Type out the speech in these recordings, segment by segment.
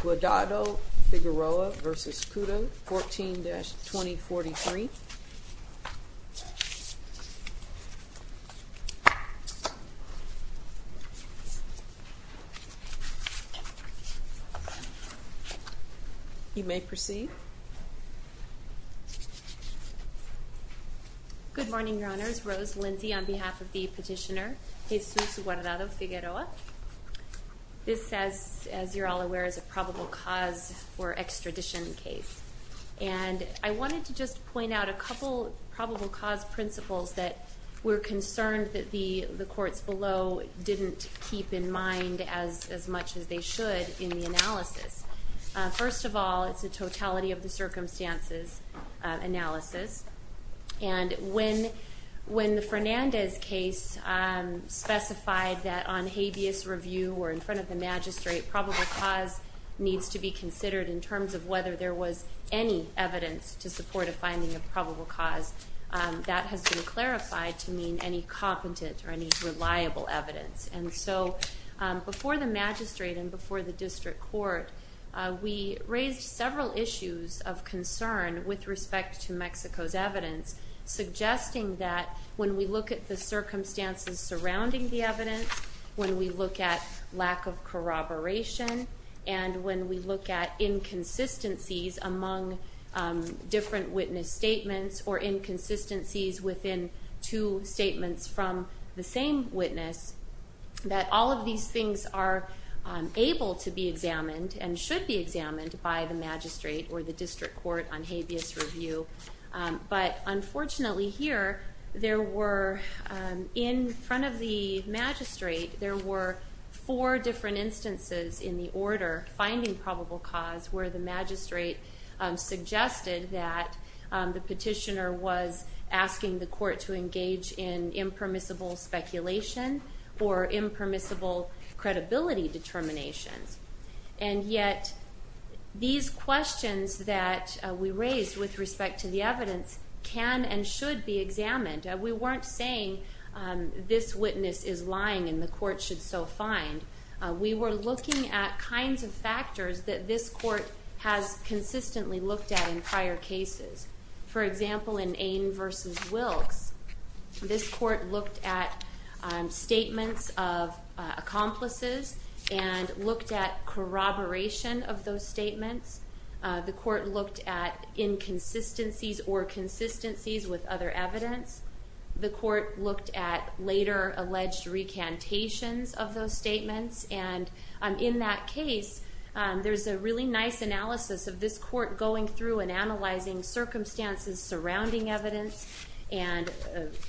Guardado-Figueroa v. Kuta, 14-2043. You may proceed. Good morning, Your Honors. Rose Lindsey on behalf of the This says, as you're all aware, is a probable cause for extradition case. And I wanted to just point out a couple probable cause principles that we're concerned that the courts below didn't keep in mind as much as they should in the analysis. First of all, it's a totality of the circumstances analysis. And when the Fernandez case specified that on habeas review or in front of the magistrate, probable cause needs to be considered in terms of whether there was any evidence to support a finding of probable cause. That has been clarified to mean any competent or any reliable evidence. And so before the magistrate and before the district court, we raised several issues of concern with respect to Mexico's evidence, suggesting that when we look at the circumstances surrounding the evidence, when we look at lack of corroboration, and when we look at inconsistencies among different witness statements or inconsistencies within two statements from the same witness, that all of these things are able to be examined and should be examined by the magistrate or the district court on four different instances in the order finding probable cause where the magistrate suggested that the petitioner was asking the court to engage in impermissible speculation or impermissible credibility determinations. And yet, these questions that we raised with respect to the evidence can and should be examined. We weren't saying this witness is lying and the court should so find. We were looking at kinds of factors that this court has consistently looked at in prior cases. For example, in Ain v. Wilkes, this court looked at statements of accomplices and looked at corroboration of those statements. The court looked at inconsistencies or consistencies with other evidence. The court looked at later alleged recantations of those statements. And in that case, there's a really nice analysis of this court going through and analyzing circumstances surrounding evidence and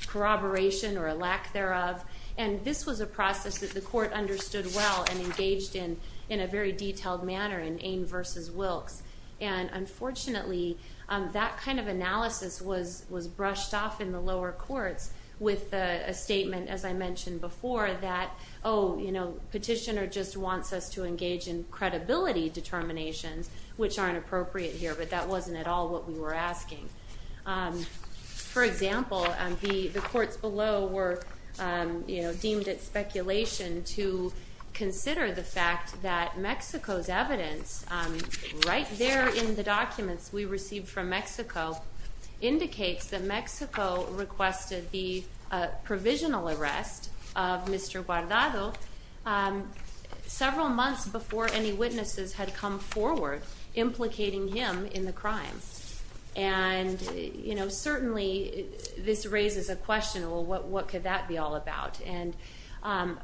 corroboration or a lack thereof. And this was a process that the court understood well and engaged in in a very detailed manner in Ain v. Wilkes. And unfortunately, that kind of analysis was brushed off in the lower courts with a statement, as I mentioned before, that, oh, you know, petitioner just wants us to engage in credibility determinations, which aren't appropriate here. But that wasn't at all what we were asking. For example, the courts below were deemed it speculation to consider the fact that Mexico's evidence, right there in the documents we received from Mexico, indicates that Mexico requested the provisional arrest of Mr. Guardado several months before any witnesses had come forward implicating him in the crime. And, um,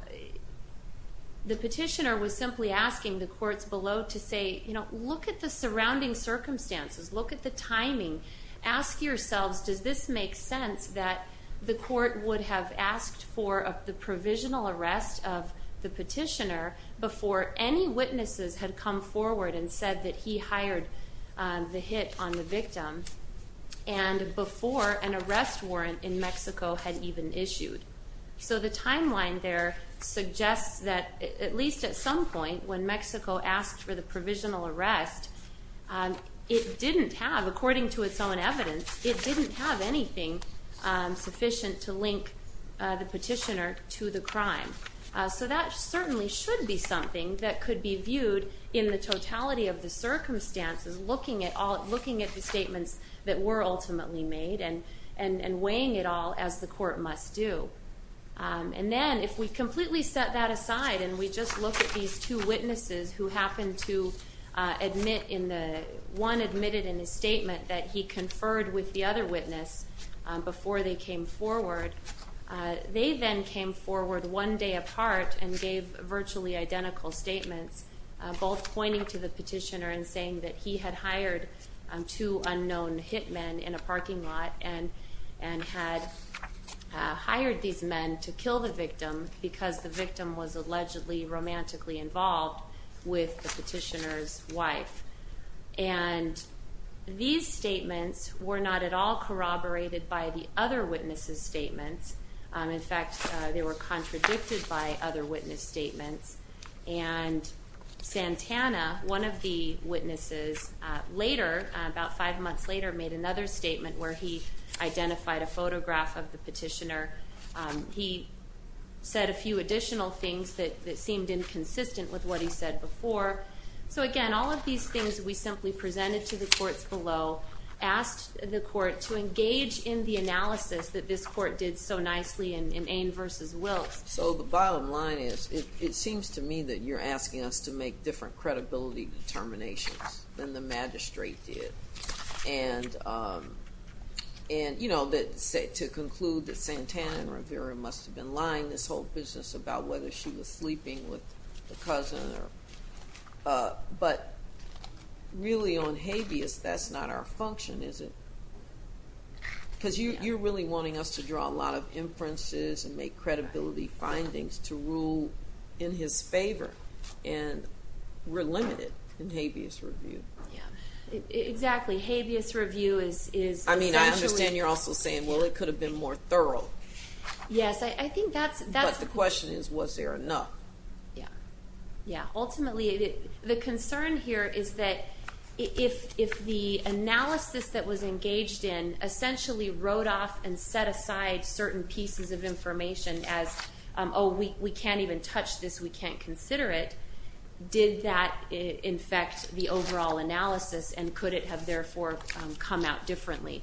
the petitioner was simply asking the courts below to say, you know, look at the surrounding circumstances, look at the timing, ask yourselves, does this make sense that the court would have asked for the provisional arrest of the petitioner before any witnesses had come forward and said that he hired the hit on the victim and before an arrest warrant in Mexico had even issued? So the timeline there suggests that at least at some point when Mexico asked for the provisional arrest, it didn't have, according to its own evidence, it didn't have anything sufficient to link the petitioner to the crime. So that certainly should be something that could be viewed in the totality of the circumstances, looking at all, looking at the statements that were ultimately made and weighing it all as the court must do. And then, if we completely set that aside and we just look at these two witnesses who happened to admit in the, one admitted in his statement that he conferred with the other witness before they came forward, they then came forward one day apart and gave virtually identical statements, both pointing to the petitioner and saying that he had hired two unknown hit men in a parking lot and had hired these men to kill the victim because the victim was allegedly romantically involved with the petitioner's wife. And these statements were not at all corroborated by the other witnesses' statements. In fact, they were contradicted by other witness statements. And Santana, one of the witnesses, later, about five months later, made another statement where he identified a photograph of the petitioner. He said a few additional things that seemed inconsistent with what he said before. So again, all of these things we simply presented to the courts below, asked the court to engage in the analysis that this court did so nicely in Ane v. Wills. So the bottom line is, it seems to me that you're asking us to make different credibility determinations than the magistrate did. And, you know, to conclude that Santana and Rivera must have been lying this whole business about whether she was sleeping with the cousin. But, really, on habeas, that's not our function, is it? Because you're really wanting us to draw a lot of inferences and make credibility findings to rule in his favor. And we're limited in habeas review. Yeah. Exactly. Habeas review is essentially... I mean, I understand you're also saying, well, it could have been more thorough. Yes. I think that's... But the question is, was there enough? Yeah. Yeah. Ultimately, the concern here is that if the analysis that was engaged in essentially wrote off and set aside certain pieces of information as, oh, we can't even touch this, we can't consider it, did that infect the overall analysis and could it have, therefore, come out differently?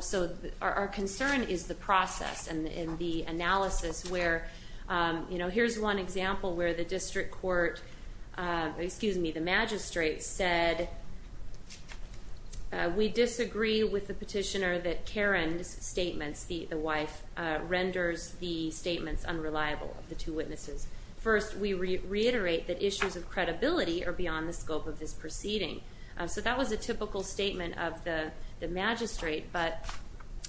So our concern is the process and the analysis where, you know, here's one example where the district court, excuse me, the magistrate said, we disagree with the petitioner that Karen's statements, the wife, renders the statements unreliable of the two witnesses. First, we reiterate that issues of credibility are beyond the scope of this proceeding. So that was a typical statement of the magistrate, but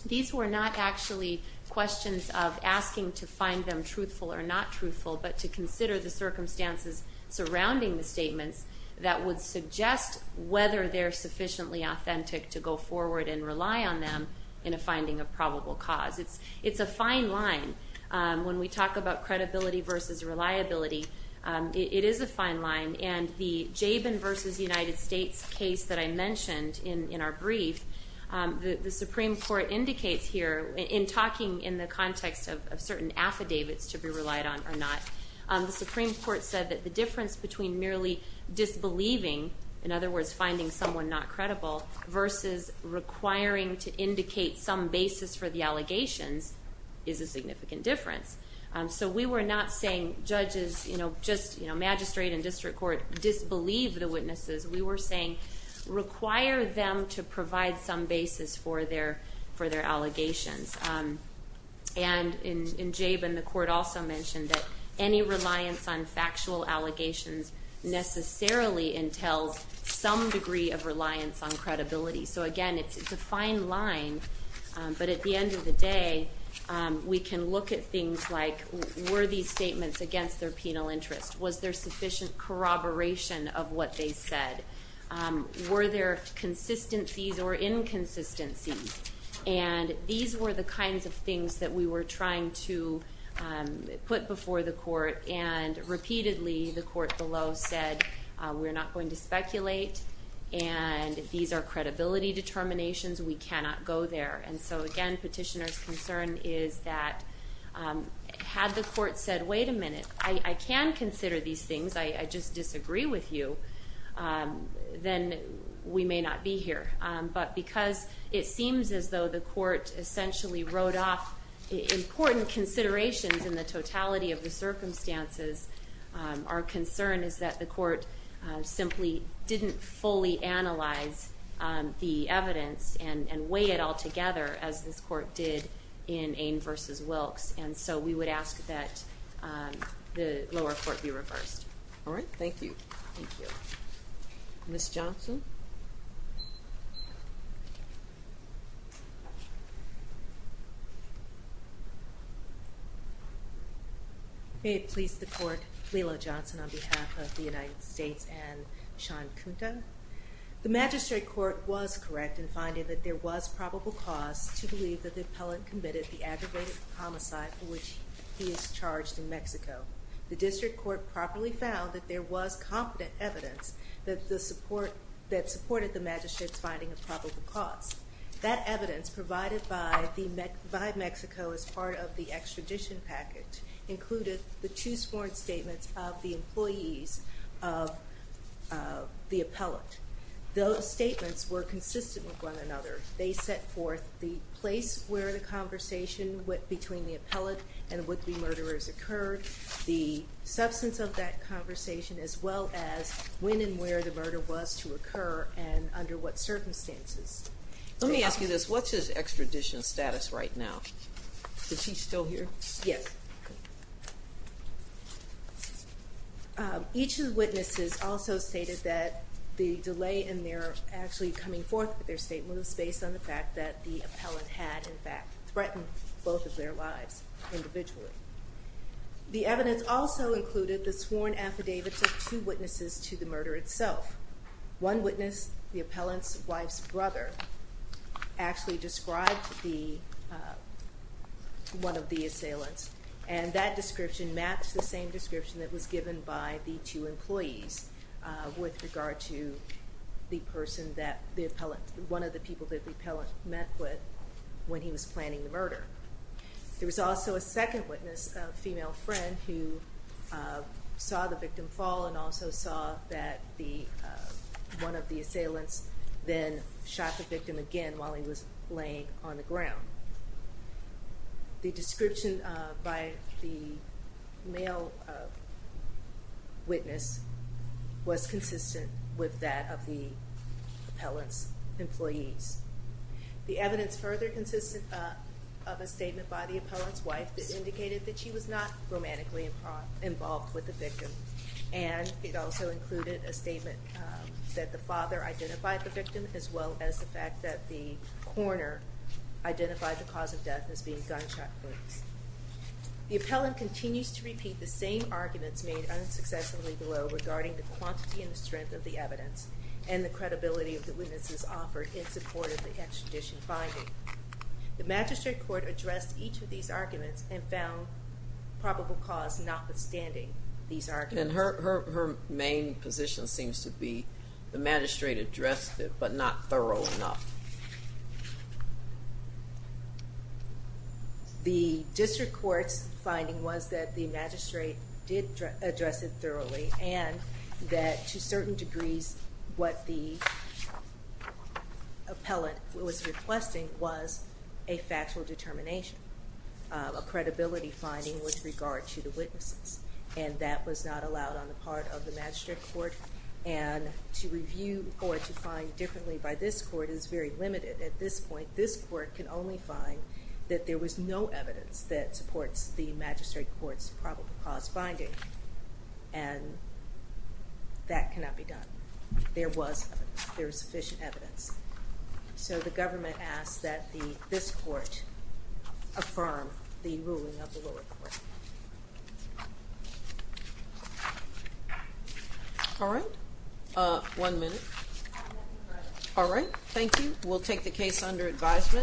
these were not actually questions of asking to find them truthful or not truthful, but to consider the circumstances surrounding the statements that would suggest whether they're sufficiently authentic to go forward and rely on them in a finding of probable cause. It's a fine line. When we talk about credibility versus reliability, it is a fine line. And the Jabin v. United States case that I mentioned in our brief, the Supreme Court indicates here in talking in the context of certain affidavits to be relied on or not, the Supreme Court said that the difference between merely disbelieving, in other words, finding someone not credible, versus requiring to indicate some basis for the allegations is a significant difference. So we were not saying judges, just magistrate and district court disbelieve the witnesses. We were saying require them to provide some basis for their allegations. And in Jabin, the court also mentioned that any reliance on factual allegations necessarily entails some degree of reliance on credibility. So again, it's a fine line, but at the end of the day, we can look at things like, were these statements against their penal interest? Was there sufficient corroboration of what they said? Were there consistencies or inconsistencies? And these were the kinds of things that we were trying to put before the court, and repeatedly the court below said, we're not going to speculate, and these are credibility determinations, we cannot go there. And so again, petitioner's concern is that, had the court said, wait a minute, I can consider these things, I just disagree with you, then we may not be here. But because it seems as though the court essentially wrote off important considerations in the totality of the circumstances, our concern is that the court simply didn't fully analyze the evidence and weigh it all together, as this court did in Ane v. Wilkes, and so we would ask that the lower court be reversed. All right, thank you. Thank you. Ms. Johnson? May it please the court, Lela Johnson on behalf of the United States and Sean Kunta. The magistrate court was correct in finding that there was probable cause to believe that the appellant committed the aggravated homicide for which he is charged in Mexico. The district court properly found that there was competent evidence that supported the magistrate's finding of probable cause. That evidence, provided by Mexico as part of the extradition package, included the two sworn statements of the employees of the appellant. Those statements were consistent with one another. They set forth the place where the conversation between the appellant and the would-be murderers occurred, the substance of that conversation, as well as when and where the murder was to occur and under what circumstances. Let me ask you this, what's his extradition status right now? Is he still here? Yes. Each of the witnesses also stated that the delay in their actually coming forth with their statement was based on the fact that the appellant had, in fact, threatened both of their lives individually. The evidence also included the sworn affidavits of two witnesses to the murder itself. One witness, the appellant's wife's brother, actually described one of the assailants, and that description matched the same description that was given by the two employees with regard to the person that the appellant, one of the people that the appellant met with when he was planning the murder. There was also a second witness, a female friend, who saw the victim fall and also saw that one of the assailants then shot the victim again while he was laying on the ground. The description by the male witness was consistent with that of the appellant's employees. The evidence further consisted of a statement by the appellant's wife that indicated that she was not romantically involved with the victim, and it also included a statement that the father identified the victim as well as the fact that the coroner identified the cause of death as being gunshot wounds. The appellant continues to repeat the same arguments made unsuccessfully below regarding the quantity and the strength of the evidence and the credibility of the witnesses offered in support of the extradition finding. The magistrate court addressed each of these arguments and found probable cause notwithstanding these arguments. And her main position seems to be the magistrate addressed it but not thorough enough. The district court's finding was that the magistrate did address it thoroughly and that to certain degrees what the appellant was requesting was a factual determination. A credibility finding with regard to the witnesses. And that was not allowed on the part of the magistrate court. And to review or to find differently by this court is very limited at this point. This court can only find that there was no evidence that supports the magistrate court's finding and that cannot be done. There was sufficient evidence. So the government asks that this court affirm the ruling of the lower court. All right. One minute. All right. Thank you. We'll take the case under advisement.